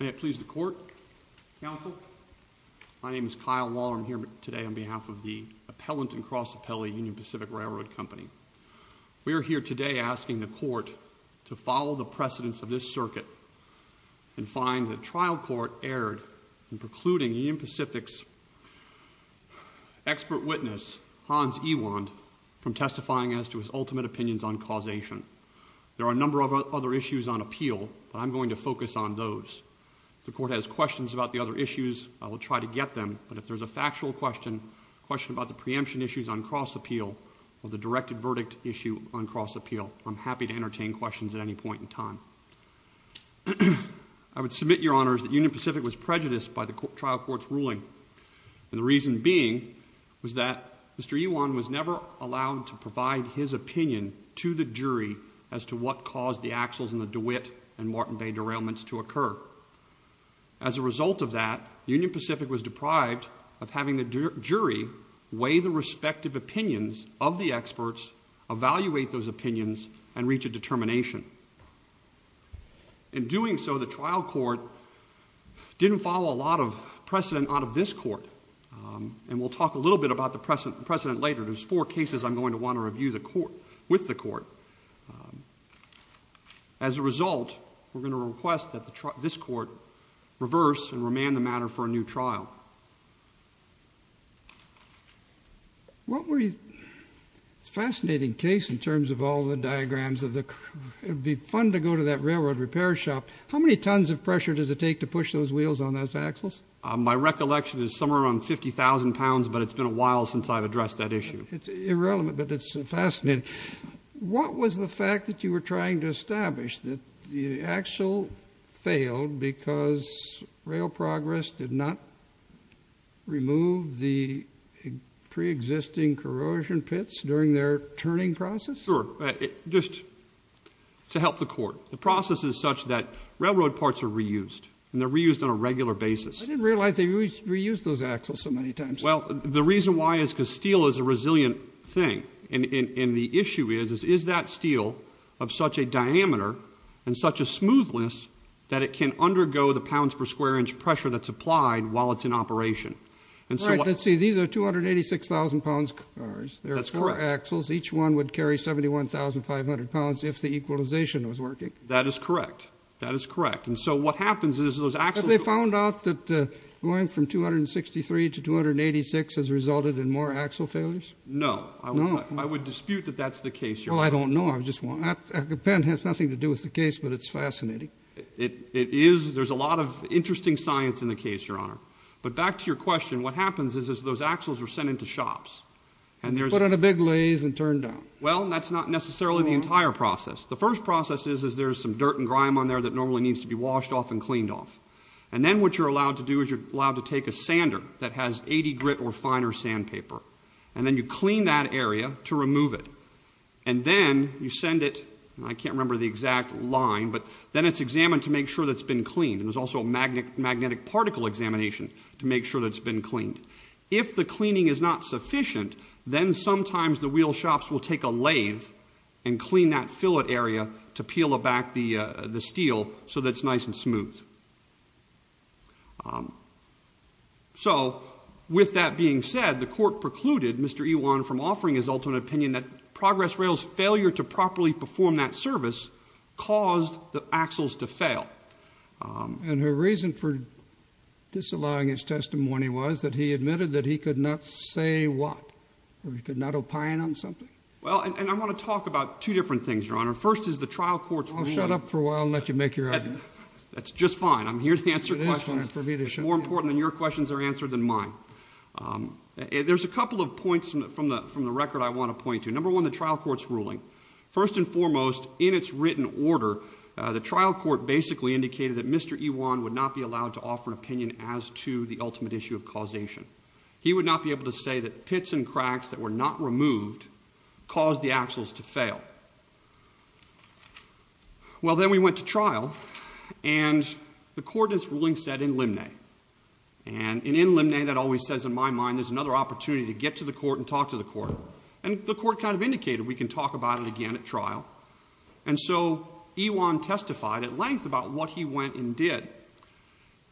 May it please the court, counsel. My name is Kyle Waller. I'm here today on behalf of the appellant and cross appellee Union Pacific Railroad Company. We are here today asking the court to follow the precedence of this circuit and find the trial court erred in precluding Union Pacific's expert witness Hans Ewand from testifying as to his ultimate opinions on causation. There are a number of other issues on appeal, but I'm going to focus on those. If the court has questions about the other issues, I will try to get them, but if there's a factual question, a question about the preemption issues on cross appeal, or the directed verdict issue on cross appeal, I'm happy to entertain questions at any point in time. I would submit, Your Honors, that Union Pacific was prejudiced by the trial court's ruling, and the reason being was that Mr. Ewand was never allowed to provide his opinion on the DeWitt and Martin Bay derailments to occur. As a result of that, Union Pacific was deprived of having the jury weigh the respective opinions of the experts, evaluate those opinions, and reach a determination. In doing so, the trial court didn't follow a lot of precedent out of this court, and we'll talk a little bit about the precedent later. There's four cases I'm going to talk about. As a result, we're going to request that this court reverse and remand the matter for a new trial. It's a fascinating case in terms of all the diagrams. It would be fun to go to that railroad repair shop. How many tons of pressure does it take to push those wheels on those axles? My recollection is somewhere around 50,000 pounds, but it's been a while since I've addressed that issue. It's irrelevant, but it's fascinating. What was the fact that you were trying to establish, that the axle failed because Rail Progress did not remove the pre-existing corrosion pits during their turning process? Sure. Just to help the court. The process is such that railroad parts are reused, and they're reused on a regular basis. I didn't realize they reused those axles so many times. The reason why is because steel is a resilient thing. The issue is, is that steel of such a diameter and such a smoothness that it can undergo the pounds per square inch pressure that's applied while it's in operation? Right. Let's see. These are 286,000 pounds cars. There are four axles. Each one would carry 71,500 pounds if the equalization was working. That is correct. That is correct. What happens is those axles... Have you found out that going from 263 to 286 has resulted in more axle failures? No. I would dispute that that's the case, Your Honor. Oh, I don't know. The pen has nothing to do with the case, but it's fascinating. It is. There's a lot of interesting science in the case, Your Honor. But back to your question, what happens is those axles are sent into shops, and there's... And they're put on a big lathe and turned down. Well, that's not necessarily the entire process. The first process is there's some dirt and grime on there that normally needs to be washed off and cleaned off. And then what you're allowed to do is you're allowed to take a sander that has 80 grit or finer sandpaper. And then you clean that area to remove it. And then you send it... I can't remember the exact line, but then it's examined to make sure that it's been cleaned. And there's also a magnetic particle examination to make sure that it's been cleaned. If the cleaning is not sufficient, then sometimes the wheel shops will take a lathe and clean that fillet area to peel back the steel so that it's nice and smooth. So with that being said, the Court precluded Mr. Ewan from offering his ultimate opinion that Progress Rail's failure to properly perform that service caused the axles to fail. And her reason for disallowing his testimony was that he admitted that he could not say what? That he could not opine on something? Well, and I want to talk about two different things, Your Honor. First is the trial court's ruling... I'll shut up for a while and let you make your argument. That's just fine. I'm here to answer questions. It is for me to shut up. It's more important that your questions are answered than mine. There's a couple of points from the record I want to point to. Number one, the trial court's ruling. First and foremost, in its written order, the trial court basically indicated that Mr. Ewan would not be allowed to offer an opinion as to the ultimate issue of causation. He would not be able to say that pits and cracks that were not removed caused the axles to fail. Well, then we went to trial, and the court in its ruling said in limne. And in in limne, that always says in my mind there's another opportunity to get to the court and talk to the court. And the court kind of indicated we can talk about it again at trial. And so Ewan testified at length about what he went and did.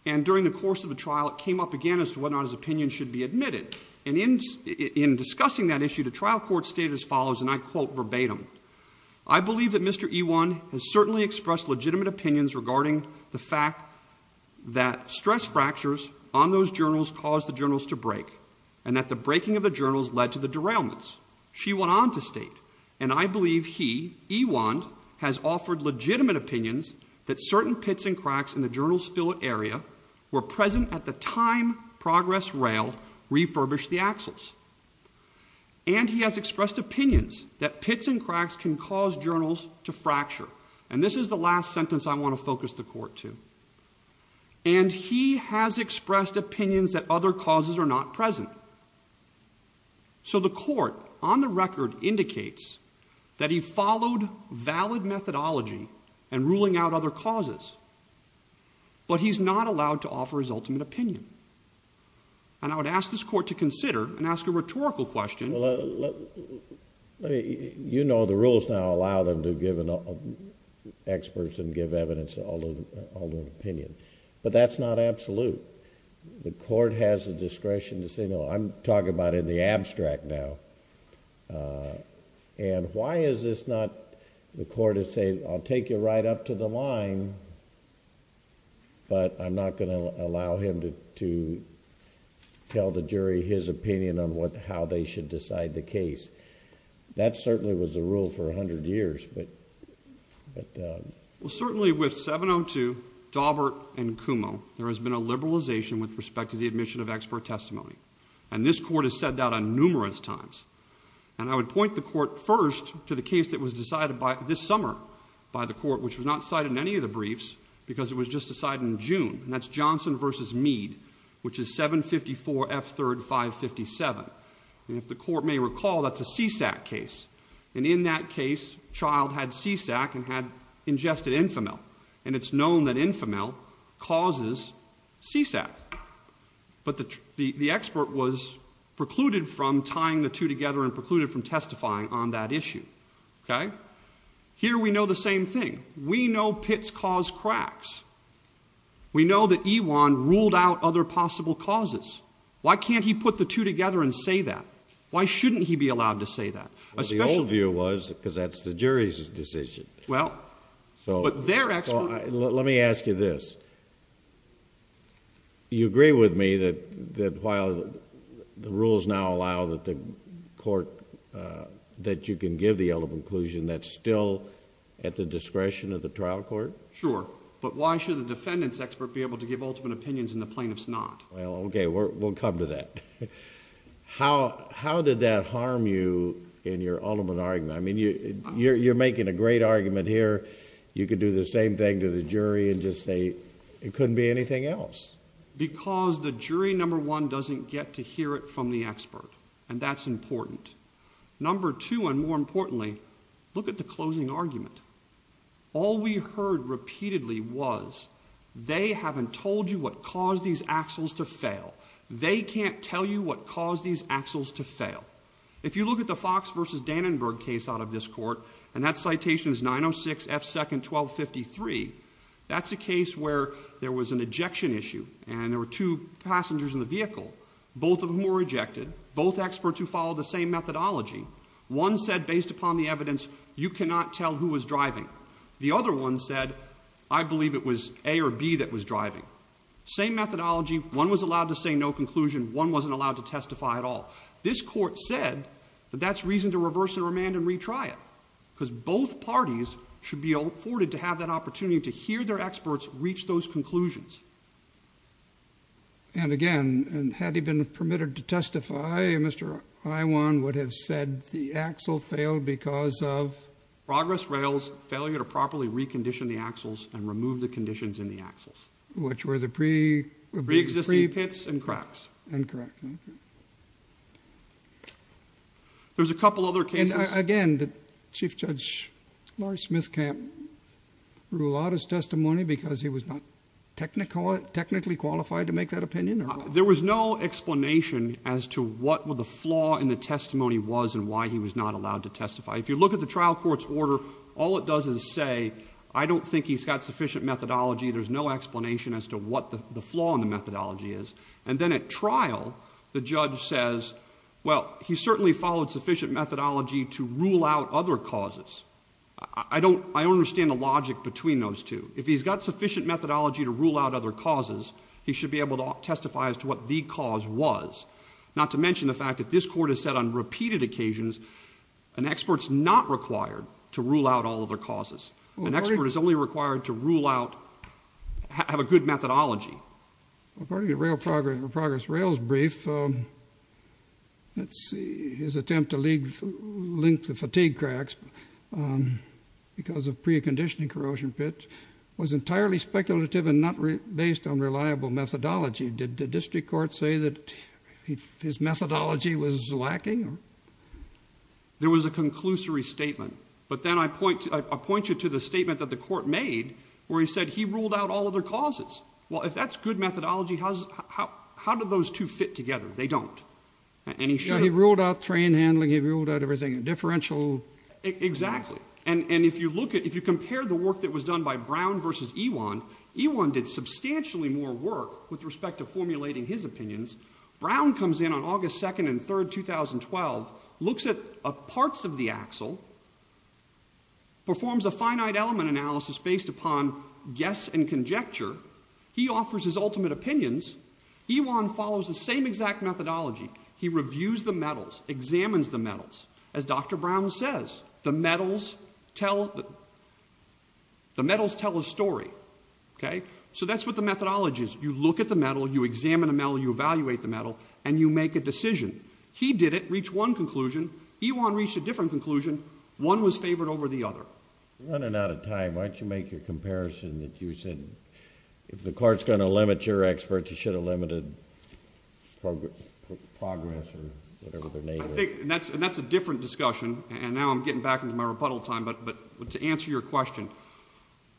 And during the course of the trial, it came up again as to whether or not his opinion should be admitted. And in discussing that issue, the trial court stated as follows, and I quote verbatim, I believe that Mr. Ewan has certainly expressed legitimate opinions regarding the fact that stress fractures on those journals caused the journals to break, and that the breaking of the journals led to the derailments. She went on to state, and I believe he, Ewan, has offered legitimate opinions that certain pits and cracks in the journals fillet area were present at the time progress rail refurbished the axles. And he has expressed opinions that pits and cracks can cause journals to fracture. And this is the last sentence I want to focus the court to. And he has expressed opinions that other causes are not present. So the court, on the record, indicates that he followed valid methodology in ruling out other causes. But he's not allowed to offer his ultimate opinion. And I would ask this court to consider and ask a rhetorical question. You know the rules now allow them to give experts and give evidence all to an opinion. But that's not absolute. The court has the discretion to say, no, I'm talking about in the abstract now. And why is this not... the court has said, I'll take you right up to the line, but I'm not going to allow him to tell the jury his opinion on how they should decide the case. That certainly was the rule for a hundred years, but... Well, certainly with 702, Daubert, and Kumo, there has been a liberalization with respect to the admission of expert testimony. And this court has said that on numerous times. And I would point the court first to the case that was decided this summer by the court, which was not cited in any of the briefs because it was just decided in June. And that's Johnson v. Mead, which is 754 F. 3rd 557. And if the court may recall, that's a CSAC case. And in that case, the child had CSAC and had ingested Infomel. And it's known that Infomel causes CSAC. But the expert was precluded from tying the two together and precluded from testifying on that issue. Okay? Here we know the same thing. We know Pitts caused cracks. We know that Ewan ruled out other possible causes. Why can't he put the two together and say that? Why shouldn't he be allowed to say that? Well, the old view was because that's the jury's decision. Well, but their expert... You agree with me that while the rules now allow that the court... that you can give the ultimate conclusion, that's still at the discretion of the trial court? Sure. But why should the defendant's expert be able to give ultimate opinions and the plaintiff's not? Well, okay. We'll come to that. How did that harm you in your ultimate argument? I mean, you're making a great argument here. You could do the same thing to the jury and just say it couldn't be anything else. Because the jury, number one, doesn't get to hear it from the expert, and that's important. Number two, and more importantly, look at the closing argument. All we heard repeatedly was they haven't told you what caused these axles to fail. They can't tell you what caused these axles to fail. If you look at the Fox v. Dannenberg case out of this court, and that citation is 906 F. 2nd 1253, that's a case where there was an ejection issue, and there were two passengers in the vehicle, both of whom were ejected, both experts who followed the same methodology. One said, based upon the evidence, you cannot tell who was driving. The other one said, I believe it was A or B that was driving. Same methodology. One was allowed to say no conclusion. One wasn't allowed to testify at all. This court said that that's reason to reverse the remand and retry it, because both parties should be afforded to have that opportunity to hear their experts reach those conclusions. And again, had he been permitted to testify, Mr. Iwan would have said the axle failed because of? Progress rails, failure to properly recondition the axles and remove the conditions in the axles. Which were the pre? Pre-existing pits and cracks. Incorrect. There's a couple other cases. Again, did Chief Judge Larry Smithcamp rule out his testimony because he was not technically qualified to make that opinion? There was no explanation as to what the flaw in the testimony was and why he was not allowed to testify. If you look at the trial court's order, all it does is say, I don't think he's got sufficient methodology. There's no explanation as to what the flaw in the methodology is. And then at trial, the judge says, well, he certainly followed sufficient methodology to rule out other causes. I don't understand the logic between those two. If he's got sufficient methodology to rule out other causes, he should be able to testify as to what the cause was. Not to mention the fact that this court has said on repeated occasions, an expert's not required to rule out all other causes. An expert is only required to rule out, have a good methodology. According to progress rail's brief, his attempt to link the fatigue cracks because of pre-conditioning corrosion pits was entirely speculative and not based on reliable methodology. Did the district court say that his methodology was lacking? There was a conclusory statement. But then I point you to the statement that the court made where he said he ruled out all other causes. Well, if that's good methodology, how do those two fit together? They don't. He ruled out train handling. He ruled out everything. Differential. Exactly. And if you compare the work that was done by Brown versus Ewan, Ewan did substantially more work with respect to formulating his opinions. Brown comes in on August 2nd and 3rd, 2012, looks at parts of the axle, performs a finite element analysis based upon guess and conjecture. He offers his ultimate opinions. Ewan follows the same exact methodology. He reviews the metals, examines the metals. As Dr. Brown says, the metals tell a story. So that's what the methodology is. You look at the metal, you examine the metal, you evaluate the metal, and you make a decision. He did it, reached one conclusion. Ewan reached a different conclusion. One was favored over the other. You're running out of time. Why don't you make your comparison that you said if the court's going to limit your experts, it should have limited progress or whatever their name is. I think that's a different discussion, and now I'm getting back into my rebuttal time, but to answer your question,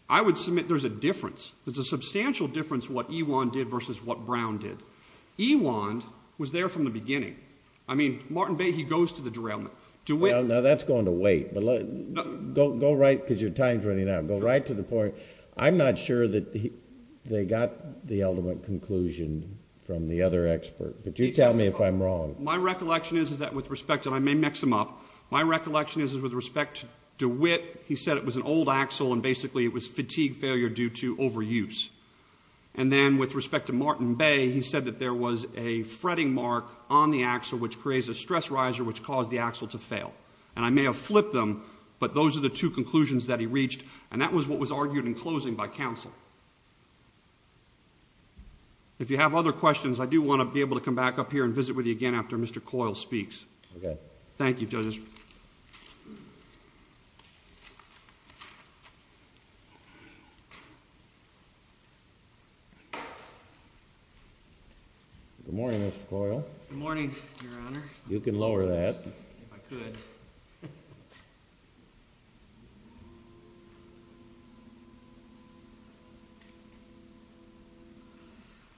I would submit there's a difference. There's a substantial difference what Ewan did versus what Brown did. Ewan was there from the beginning. I mean, Martin Bay, he goes to the derailment. Now, that's going to wait. Go right because your time's running out. Go right to the point. I'm not sure that they got the ultimate conclusion from the other expert, but you tell me if I'm wrong. My recollection is that with respect, and I may mix them up, my recollection is with respect to Witt, he said it was an old axle and basically it was fatigue failure due to overuse. And then with respect to Martin Bay, he said that there was a fretting mark on the axle which creates a stress riser which caused the axle to fail. And I may have flipped them, but those are the two conclusions that he reached, and that was what was argued in closing by counsel. If you have other questions, I do want to be able to come back up here and visit with you again after Mr. Coyle speaks. Okay. Thank you, Judge. Good morning, Mr. Coyle. Good morning, Your Honor. You can lower that. If I could.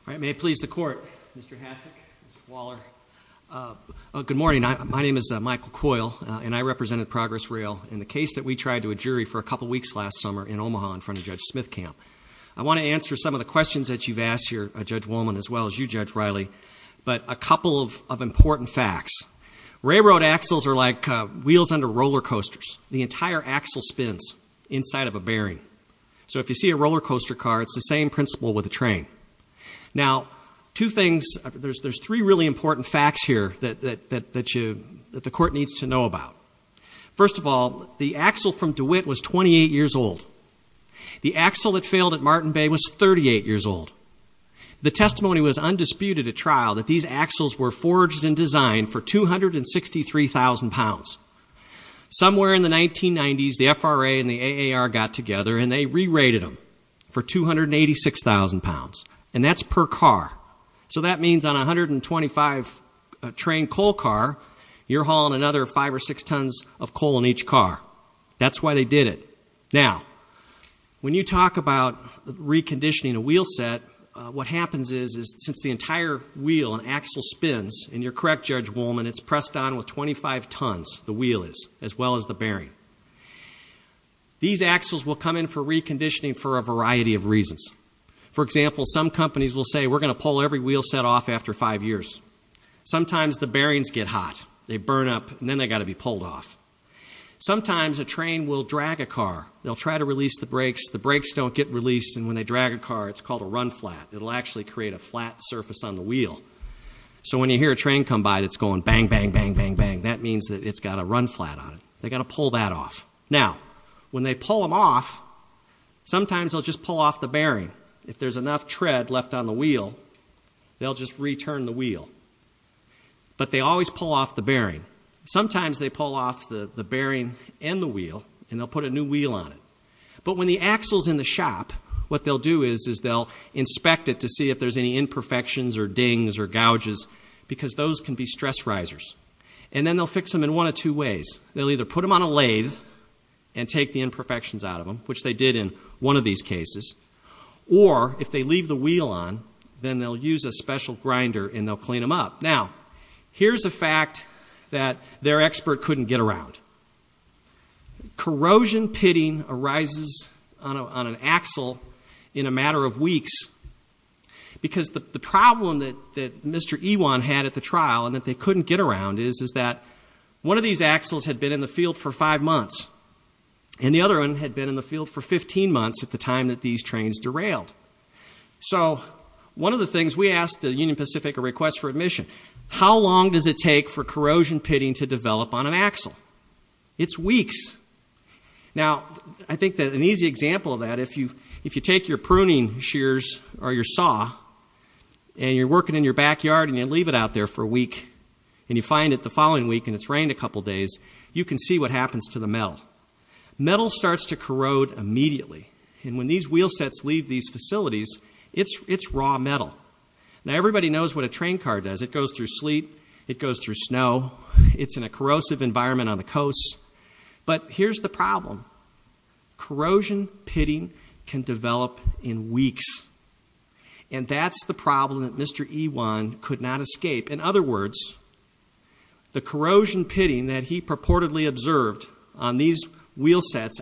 All right, may it please the Court, Mr. Hasek, Mr. Waller. Good morning. My name is Michael Coyle, and I represented Progress Rail in the case that we tried to a jury for a couple weeks last summer in Omaha in front of Judge Smithcamp. I want to answer some of the questions that you've asked here, Judge Woolman, as well as you, Judge Riley, but a couple of important facts. Railroad axles are like wheels under roller coasters. The entire axle spins inside of a bearing. So if you see a roller coaster car, it's the same principle with a train. Now, two things, there's three really important facts here that the Court needs to know about. First of all, the axle from DeWitt was 28 years old. The axle that failed at Martin Bay was 38 years old. The testimony was undisputed at trial that these axles were forged and designed for 263,000 pounds. Somewhere in the 1990s, the FRA and the AAR got together, and they re-rated them for 286,000 pounds, and that's per car. So that means on a 125-train coal car, you're hauling another five or six tons of coal in each car. That's why they did it. Now, when you talk about reconditioning a wheel set, what happens is, since the entire wheel and axle spins, and you're correct, Judge Wolman, it's pressed on with 25 tons, the wheel is, as well as the bearing. These axles will come in for reconditioning for a variety of reasons. For example, some companies will say, we're going to pull every wheel set off after five years. Sometimes the bearings get hot. They burn up, and then they've got to be pulled off. Sometimes a train will drag a car. They'll try to release the brakes. The brakes don't get released, and when they drag a car, it's called a run flat. It will actually create a flat surface on the wheel. So when you hear a train come by that's going bang, bang, bang, bang, bang, that means that it's got to run flat on it. They've got to pull that off. Now, when they pull them off, sometimes they'll just pull off the bearing. If there's enough tread left on the wheel, they'll just return the wheel. But they always pull off the bearing. Sometimes they pull off the bearing and the wheel, and they'll put a new wheel on it. But when the axle's in the shop, what they'll do is they'll inspect it to see if there's any imperfections or dings or gouges, because those can be stress risers. And then they'll fix them in one of two ways. They'll either put them on a lathe and take the imperfections out of them, which they did in one of these cases, or if they leave the wheel on, then they'll use a special grinder and they'll clean them up. Now, here's a fact that their expert couldn't get around. Corrosion pitting arises on an axle in a matter of weeks, because the problem that Mr. Ewan had at the trial, and that they couldn't get around, is that one of these axles had been in the field for five months, and the other one had been in the field for 15 months at the time that these trains derailed. So one of the things we asked the Union Pacific, a request for admission, how long does it take for corrosion pitting to develop on an axle? It's weeks. Now, I think that an easy example of that, if you take your pruning shears or your saw and you're working in your backyard and you leave it out there for a week and you find it the following week and it's rained a couple days, you can see what happens to the metal. Metal starts to corrode immediately, and when these wheel sets leave these facilities, it's raw metal. Now, everybody knows what a train car does. It goes through sleet, it goes through snow, it's in a corrosive environment on the coasts. But here's the problem. Corrosion pitting can develop in weeks, and that's the problem that Mr. Ewan could not escape. In other words, the corrosion pitting that he purportedly observed on these wheel sets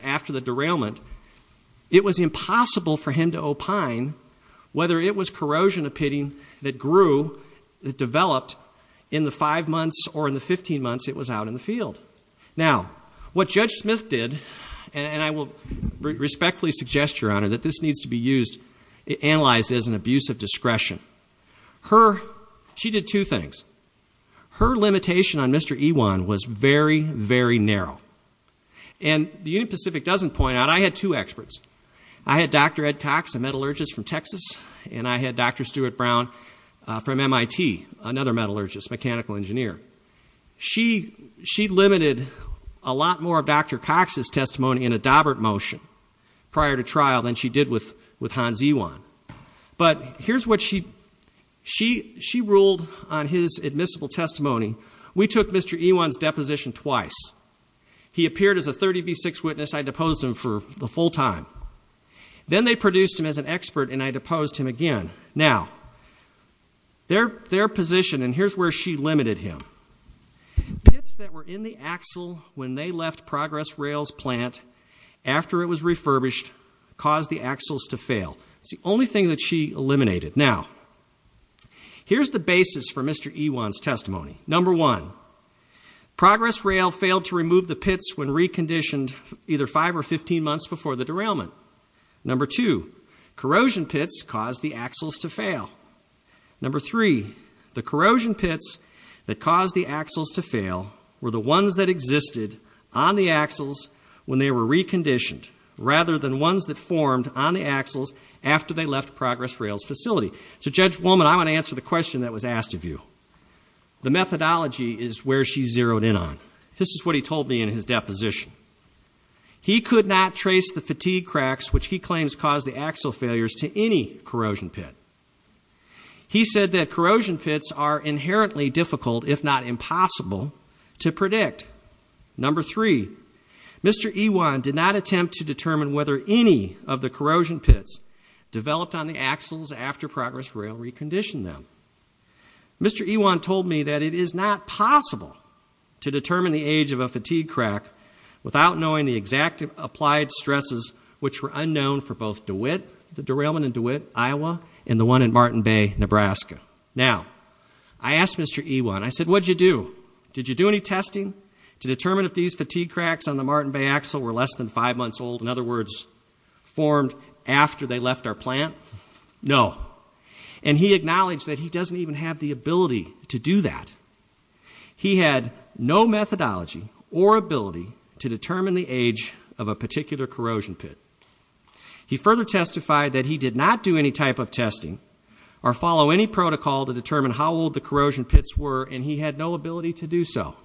whether it was corrosion pitting that grew, that developed in the five months or in the 15 months it was out in the field. Now, what Judge Smith did, and I will respectfully suggest, Your Honor, that this needs to be analyzed as an abuse of discretion. She did two things. Her limitation on Mr. Ewan was very, very narrow. And the Union Pacific doesn't point out, I had two experts. I had Dr. Ed Cox, a metallurgist from Texas, and I had Dr. Stuart Brown from MIT, another metallurgist, mechanical engineer. She limited a lot more of Dr. Cox's testimony in a Daubert motion prior to trial than she did with Hans Ewan. But here's what she ruled on his admissible testimony. We took Mr. Ewan's deposition twice. He appeared as a 30 v. 6 witness. I deposed him for the full time. Then they produced him as an expert, and I deposed him again. Now, their position, and here's where she limited him, pits that were in the axle when they left Progress Rail's plant after it was refurbished caused the axles to fail. It's the only thing that she eliminated. Now, here's the basis for Mr. Ewan's testimony. Number one, Progress Rail failed to remove the pits when reconditioned either 5 or 15 months before the derailment. Number two, corrosion pits caused the axles to fail. Number three, the corrosion pits that caused the axles to fail were the ones that existed on the axles when they were reconditioned rather than ones that formed on the axles after they left Progress Rail's facility. So, Judge Woolman, I want to answer the question that was asked of you. The methodology is where she zeroed in on. This is what he told me in his deposition. He could not trace the fatigue cracks, which he claims caused the axle failures, to any corrosion pit. He said that corrosion pits are inherently difficult, if not impossible, to predict. Number three, Mr. Ewan did not attempt to determine whether any of the corrosion pits developed on the axles after Progress Rail reconditioned them. Mr. Ewan told me that it is not possible to determine the age of a fatigue crack without knowing the exact applied stresses which were unknown for both DeWitt, the derailment in DeWitt, Iowa, and the one in Martin Bay, Nebraska. Now, I asked Mr. Ewan, I said, what did you do? Did you do any testing to determine if these fatigue cracks on the Martin Bay axle were less than five months old, in other words, formed after they left our plant? No. And he acknowledged that he doesn't even have the ability to do that. He had no methodology or ability to determine the age of a particular corrosion pit. He further testified that he did not do any type of testing or follow any protocol to determine how old the corrosion pits were, and he had no ability to do so.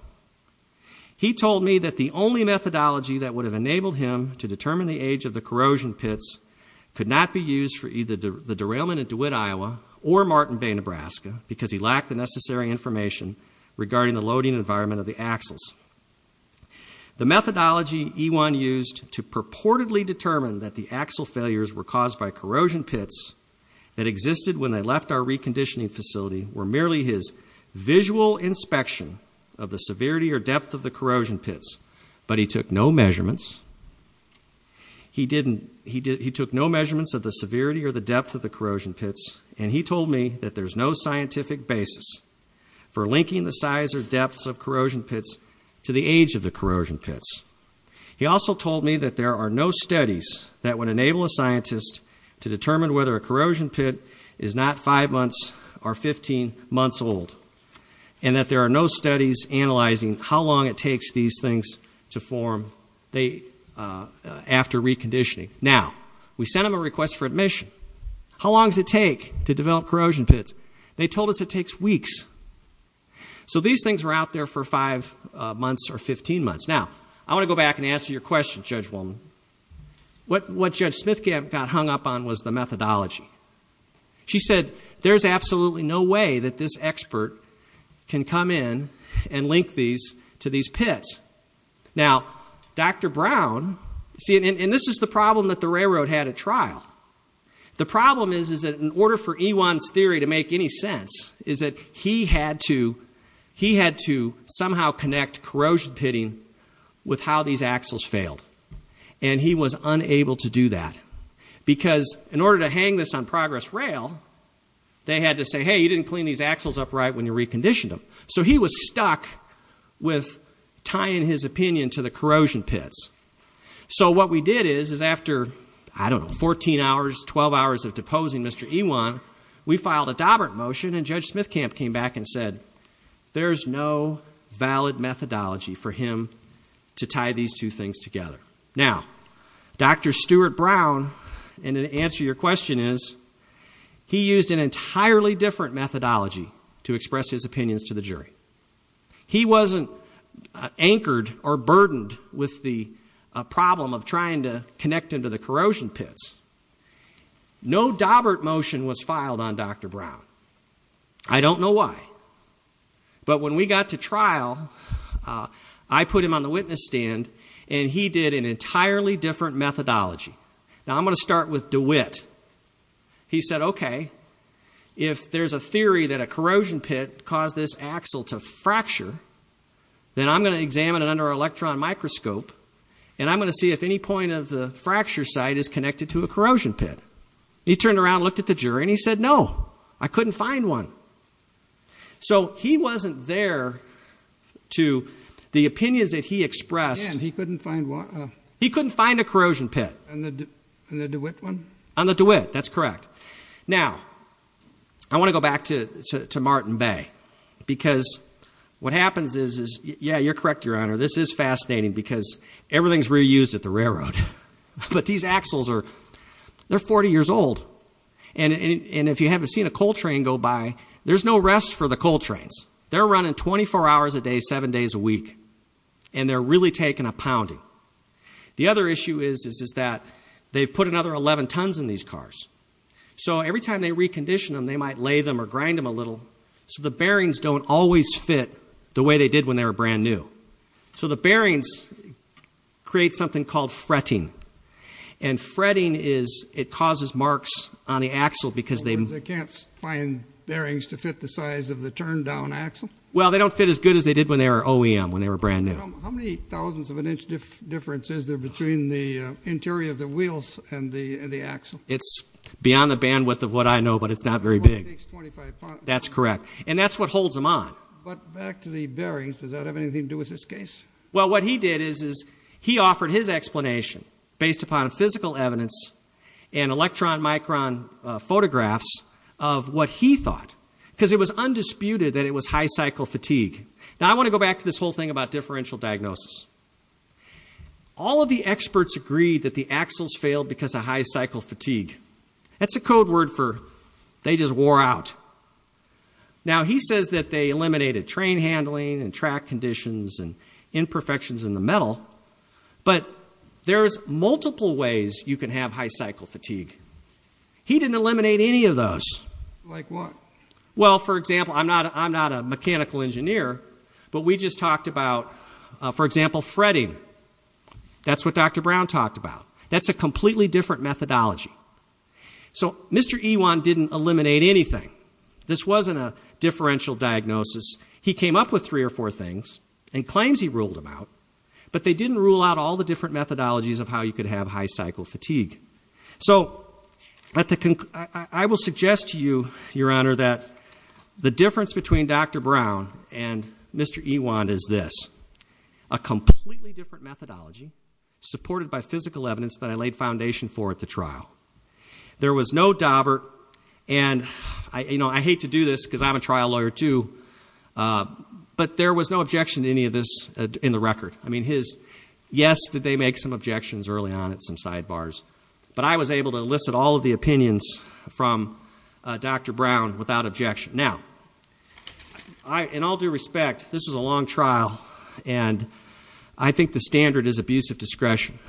He told me that the only methodology that would have enabled him to determine the age of the corrosion pits could not be used for either the derailment in DeWitt, Iowa, or Martin Bay, Nebraska, because he lacked the necessary information regarding the loading environment of the axles. The methodology Ewan used to purportedly determine that the axle failures were caused by corrosion pits that existed when they left our reconditioning facility were merely his visual inspection of the severity or depth of the corrosion pits, but he took no measurements. He took no measurements of the severity or the depth of the corrosion pits, and he told me that there's no scientific basis for linking the size or depth of corrosion pits to the age of the corrosion pits. He also told me that there are no studies that would enable a scientist to determine whether a corrosion pit is not 5 months or 15 months old, and that there are no studies analyzing how long it takes these things to form after reconditioning. Now, we sent him a request for admission. How long does it take to develop corrosion pits? They told us it takes weeks. So these things were out there for 5 months or 15 months. Now, I want to go back and answer your question, Judge Woolman. What Judge Smithkamp got hung up on was the methodology. She said there's absolutely no way that this expert can come in and link these to these pits. Now, Dr. Brown, see, and this is the problem that the railroad had at trial. The problem is that in order for Ewan's theory to make any sense is that he had to somehow connect corrosion pitting with how these axles failed, and he was unable to do that because in order to hang this on progress rail, they had to say, hey, you didn't clean these axles upright when you reconditioned them. So he was stuck with tying his opinion to the corrosion pits. So what we did is after, I don't know, 14 hours, 12 hours of deposing Mr. Ewan, we filed a Dobbert motion, and Judge Smithkamp came back and said there's no valid methodology for him to tie these two things together. Now, Dr. Stuart Brown, and to answer your question is, he used an entirely different methodology to express his opinions to the jury. He wasn't anchored or burdened with the problem of trying to connect into the corrosion pits. No Dobbert motion was filed on Dr. Brown. I don't know why. But when we got to trial, I put him on the witness stand, and he did an entirely different methodology. Now, I'm going to start with DeWitt. He said, okay, if there's a theory that a corrosion pit caused this axle to fracture, then I'm going to examine it under an electron microscope, and I'm going to see if any point of the fracture site is connected to a corrosion pit. He turned around and looked at the jury, and he said, no, I couldn't find one. So he wasn't there to the opinions that he expressed. He couldn't find one? He couldn't find a corrosion pit. On the DeWitt one? On the DeWitt, that's correct. Now, I want to go back to Martin Bay, because what happens is, yeah, you're correct, Your Honor, this is fascinating, because everything's reused at the railroad. But these axles are 40 years old, and if you haven't seen a coal train go by, there's no rest for the coal trains. They're running 24 hours a day, 7 days a week, and they're really taking a pounding. The other issue is that they've put another 11 tons in these cars. So every time they recondition them, they might lay them or grind them a little, so the bearings don't always fit the way they did when they were brand new. So the bearings create something called fretting, and fretting is it causes marks on the axle because they've been... In other words, they can't find bearings to fit the size of the turned-down axle? Well, they don't fit as good as they did when they were OEM, when they were brand new. How many thousandths of an inch difference is there between the interior of the wheels and the axle? It's beyond the bandwidth of what I know, but it's not very big. It takes 25 pounds. That's correct, and that's what holds them on. But back to the bearings, does that have anything to do with this case? Well, what he did is he offered his explanation, based upon physical evidence and electron-micron photographs of what he thought, because it was undisputed that it was high cycle fatigue. Now I want to go back to this whole thing about differential diagnosis. All of the experts agreed that the axles failed because of high cycle fatigue. That's a code word for they just wore out. Now he says that they eliminated train handling and track conditions and imperfections in the metal, but there's multiple ways you can have high cycle fatigue. He didn't eliminate any of those. Like what? Well, for example, I'm not a mechanical engineer, but we just talked about, for example, fretting. That's what Dr. Brown talked about. That's a completely different methodology. So Mr. Ewan didn't eliminate anything. This wasn't a differential diagnosis. He came up with three or four things and claims he ruled them out, but they didn't rule out all the different methodologies of how you could have high cycle fatigue. So I will suggest to you, Your Honor, that the difference between Dr. Brown and Mr. Ewan is this, a completely different methodology supported by physical evidence that I laid foundation for at the trial. There was no dauber, and I hate to do this because I'm a trial lawyer too, but there was no objection to any of this in the record. I mean, yes, did they make some objections early on and some sidebars, but I was able to elicit all of the opinions from Dr. Brown without objection. Now, in all due respect, this was a long trial, and I think the standard is abuse of discretion.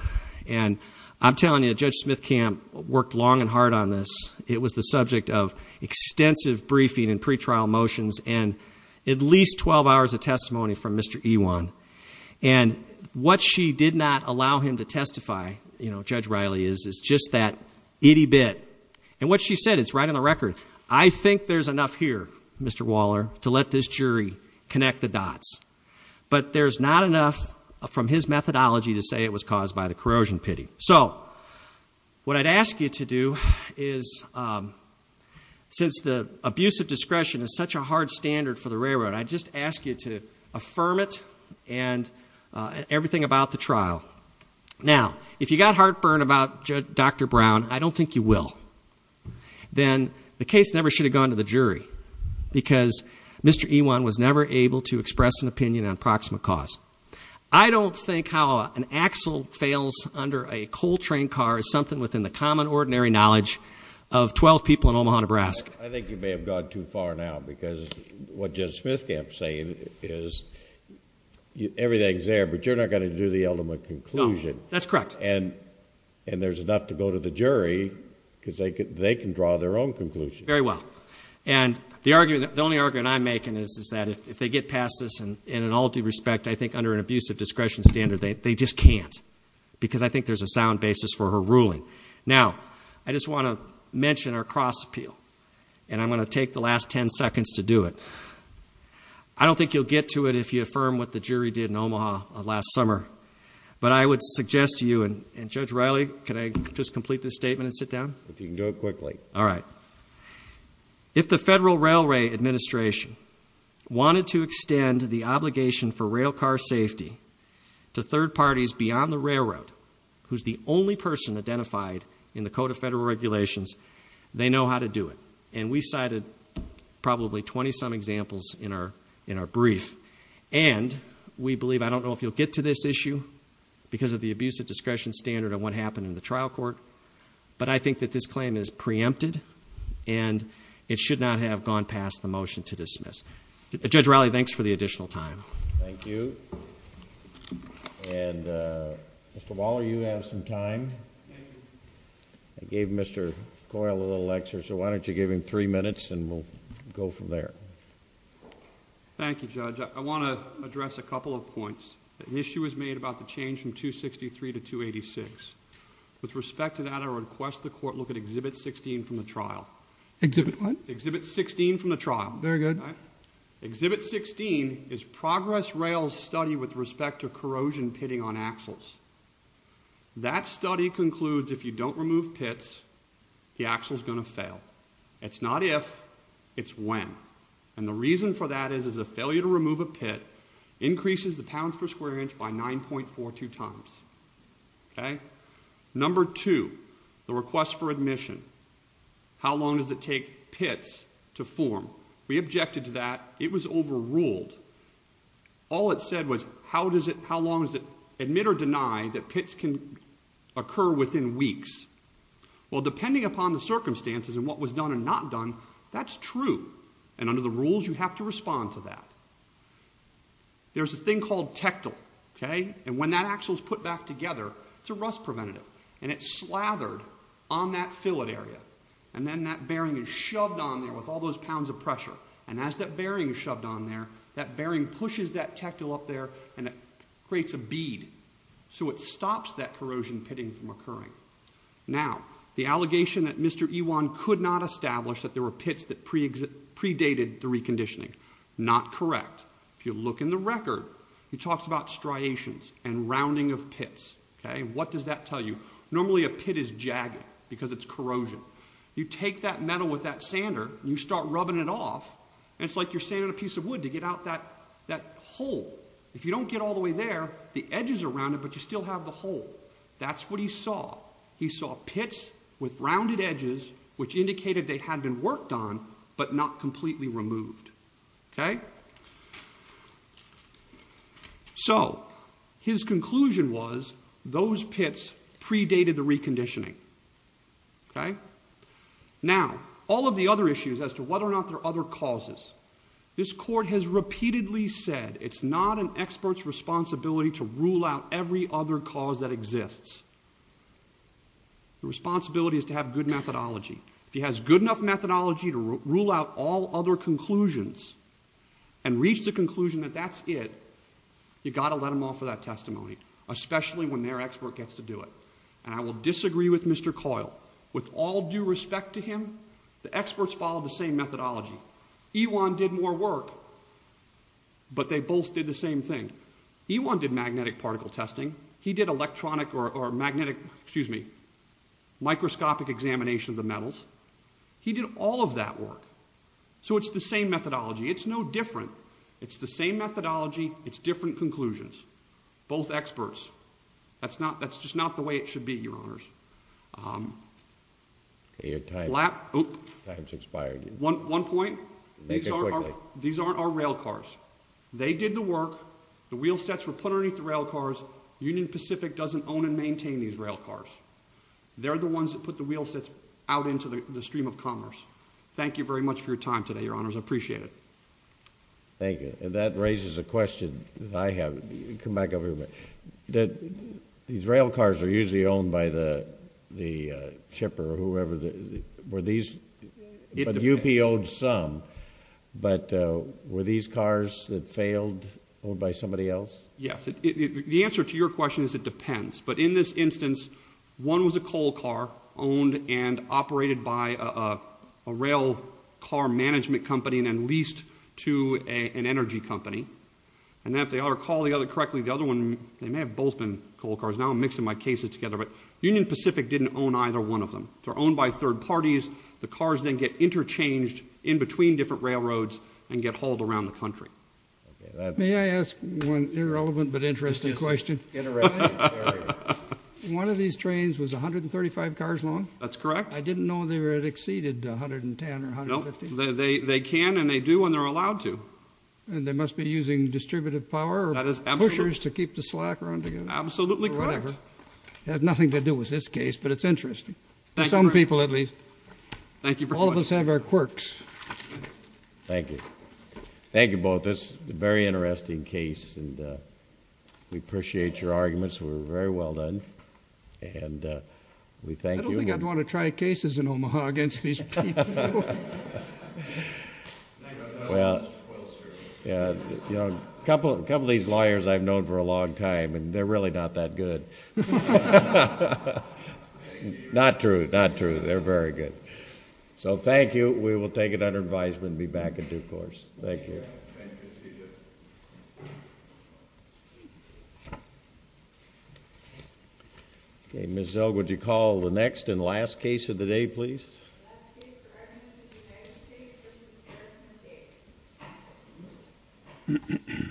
And I'm telling you, Judge Smithcamp worked long and hard on this. It was the subject of extensive briefing and pretrial motions and at least 12 hours of testimony from Mr. Ewan. And what she did not allow him to testify, Judge Riley, is just that itty bit. And what she said, it's right on the record, I think there's enough here, Mr. Waller, to let this jury connect the dots. But there's not enough from his methodology to say it was caused by the corrosion pity. So what I'd ask you to do is, since the abuse of discretion is such a hard standard for the railroad, I'd just ask you to affirm it and everything about the trial. Now, if you got heartburn about Dr. Brown, I don't think you will. Then the case never should have gone to the jury because Mr. Ewan was never able to express an opinion on proximate cause. I don't think how an axle fails under a coal train car is something within the common, ordinary knowledge of 12 people in Omaha, Nebraska. I think you may have gone too far now because what Judge Smithkamp is saying is everything's there, but you're not going to do the ultimate conclusion. No, that's correct. And there's enough to go to the jury because they can draw their own conclusions. Very well. And the only argument I'm making is that if they get past this in all due respect, I think under an abuse of discretion standard, they just can't. Because I think there's a sound basis for her ruling. Now, I just want to mention our cross appeal, and I'm going to take the last 10 seconds to do it. I don't think you'll get to it if you affirm what the jury did in Omaha last summer. But I would suggest to you, and Judge Riley, can I just complete this statement and sit down? If you can do it quickly. All right. If the Federal Railway Administration wanted to extend the obligation for rail car safety to third parties beyond the railroad, who's the only person identified in the Code of Federal Regulations, they know how to do it. And we cited probably 20-some examples in our brief. And we believe, I don't know if you'll get to this issue because of the abuse of discretion standard and what happened in the trial court, but I think that this claim is preempted and it should not have gone past the motion to dismiss. Judge Riley, thanks for the additional time. Thank you. And Mr. Waller, you have some time. Thank you. I gave Mr. Coyle a little extra, so why don't you give him three minutes and we'll go from there. Thank you, Judge. I want to address a couple of points. An issue was made about the change from 263 to 286. With respect to that, I request the court look at Exhibit 16 from the trial. Exhibit what? Exhibit 16 from the trial. Very good. Exhibit 16 is Progress Rail's study with respect to corrosion pitting on axles. That study concludes if you don't remove pits, the axle's going to fail. It's not if, it's when. And the reason for that is a failure to remove a pit increases the pounds per square inch by 9.42 times. Number two, the request for admission. How long does it take pits to form? We objected to that. It was overruled. All it said was how long does it admit or deny that pits can occur within weeks? Well, depending upon the circumstances and what was done and not done, that's true. And under the rules, you have to respond to that. There's a thing called tectal. And when that axle's put back together, it's a rust preventative, and it's slathered on that fillet area. And then that bearing is shoved on there with all those pounds of pressure. And as that bearing is shoved on there, that bearing pushes that tectal up there, and it creates a bead. So it stops that corrosion pitting from occurring. Now, the allegation that Mr. Ewan could not establish that there were pits that predated the reconditioning, not correct. If you look in the record, he talks about striations and rounding of pits. What does that tell you? Normally a pit is jagged because it's corrosion. You take that metal with that sander and you start rubbing it off, and it's like you're sanding a piece of wood to get out that hole. If you don't get all the way there, the edges are rounded, but you still have the hole. That's what he saw. He saw pits with rounded edges, which indicated they had been worked on, but not completely removed. Okay? So his conclusion was those pits predated the reconditioning. Okay? Now, all of the other issues as to whether or not there are other causes, this court has repeatedly said it's not an expert's responsibility to rule out every other cause that exists. The responsibility is to have good methodology. If he has good enough methodology to rule out all other conclusions and reach the conclusion that that's it, you've got to let him off of that testimony, especially when their expert gets to do it. And I will disagree with Mr. Coyle. With all due respect to him, the experts followed the same methodology. Ewan did more work, but they both did the same thing. Ewan did magnetic particle testing. He did electronic or magnetic, excuse me, microscopic examination of the metals. He did all of that work. So it's the same methodology. It's no different. It's the same methodology. It's different conclusions. Both experts. That's just not the way it should be, Your Honors. Okay, your time's expired. One point. Make it quickly. These aren't our rail cars. They did the work. The wheelsets were put underneath the rail cars. Union Pacific doesn't own and maintain these rail cars. They're the ones that put the wheelsets out into the stream of commerce. Thank you very much for your time today, Your Honors. I appreciate it. Thank you. And that raises a question that I have. Come back over here a minute. These rail cars are usually owned by the shipper or whoever. Were these? But UP owed some. But were these cars that failed owned by somebody else? Yes. The answer to your question is it depends. But in this instance, one was a coal car owned and operated by a rail car management company and then leased to an energy company. And if I recall correctly, the other one, they may have both been coal cars. Now I'm mixing my cases together. But Union Pacific didn't own either one of them. They're owned by third parties. The cars then get interchanged in between different railroads and get hauled around the country. May I ask one irrelevant but interesting question? One of these trains was 135 cars long? That's correct. I didn't know they had exceeded 110 or 150. They can and they do when they're allowed to. And they must be using distributive power or pushers to keep the slack around together. Absolutely correct. It has nothing to do with this case, but it's interesting. To some people at least. All of us have our quirks. Thank you. Thank you both. It's a very interesting case, and we appreciate your arguments. We're very well done. And we thank you. I don't think I'd want to try cases in Omaha against these people. Well, a couple of these lawyers I've known for a long time, and they're really not that good. Not true. Not true. They're very good. So thank you. We will take it under advisement and be back in due course. Thank you. Thank you. See you. Okay, Ms. Zell, would you call the next and last case of the day, please? The last case for evidence is United States v. Harrison State.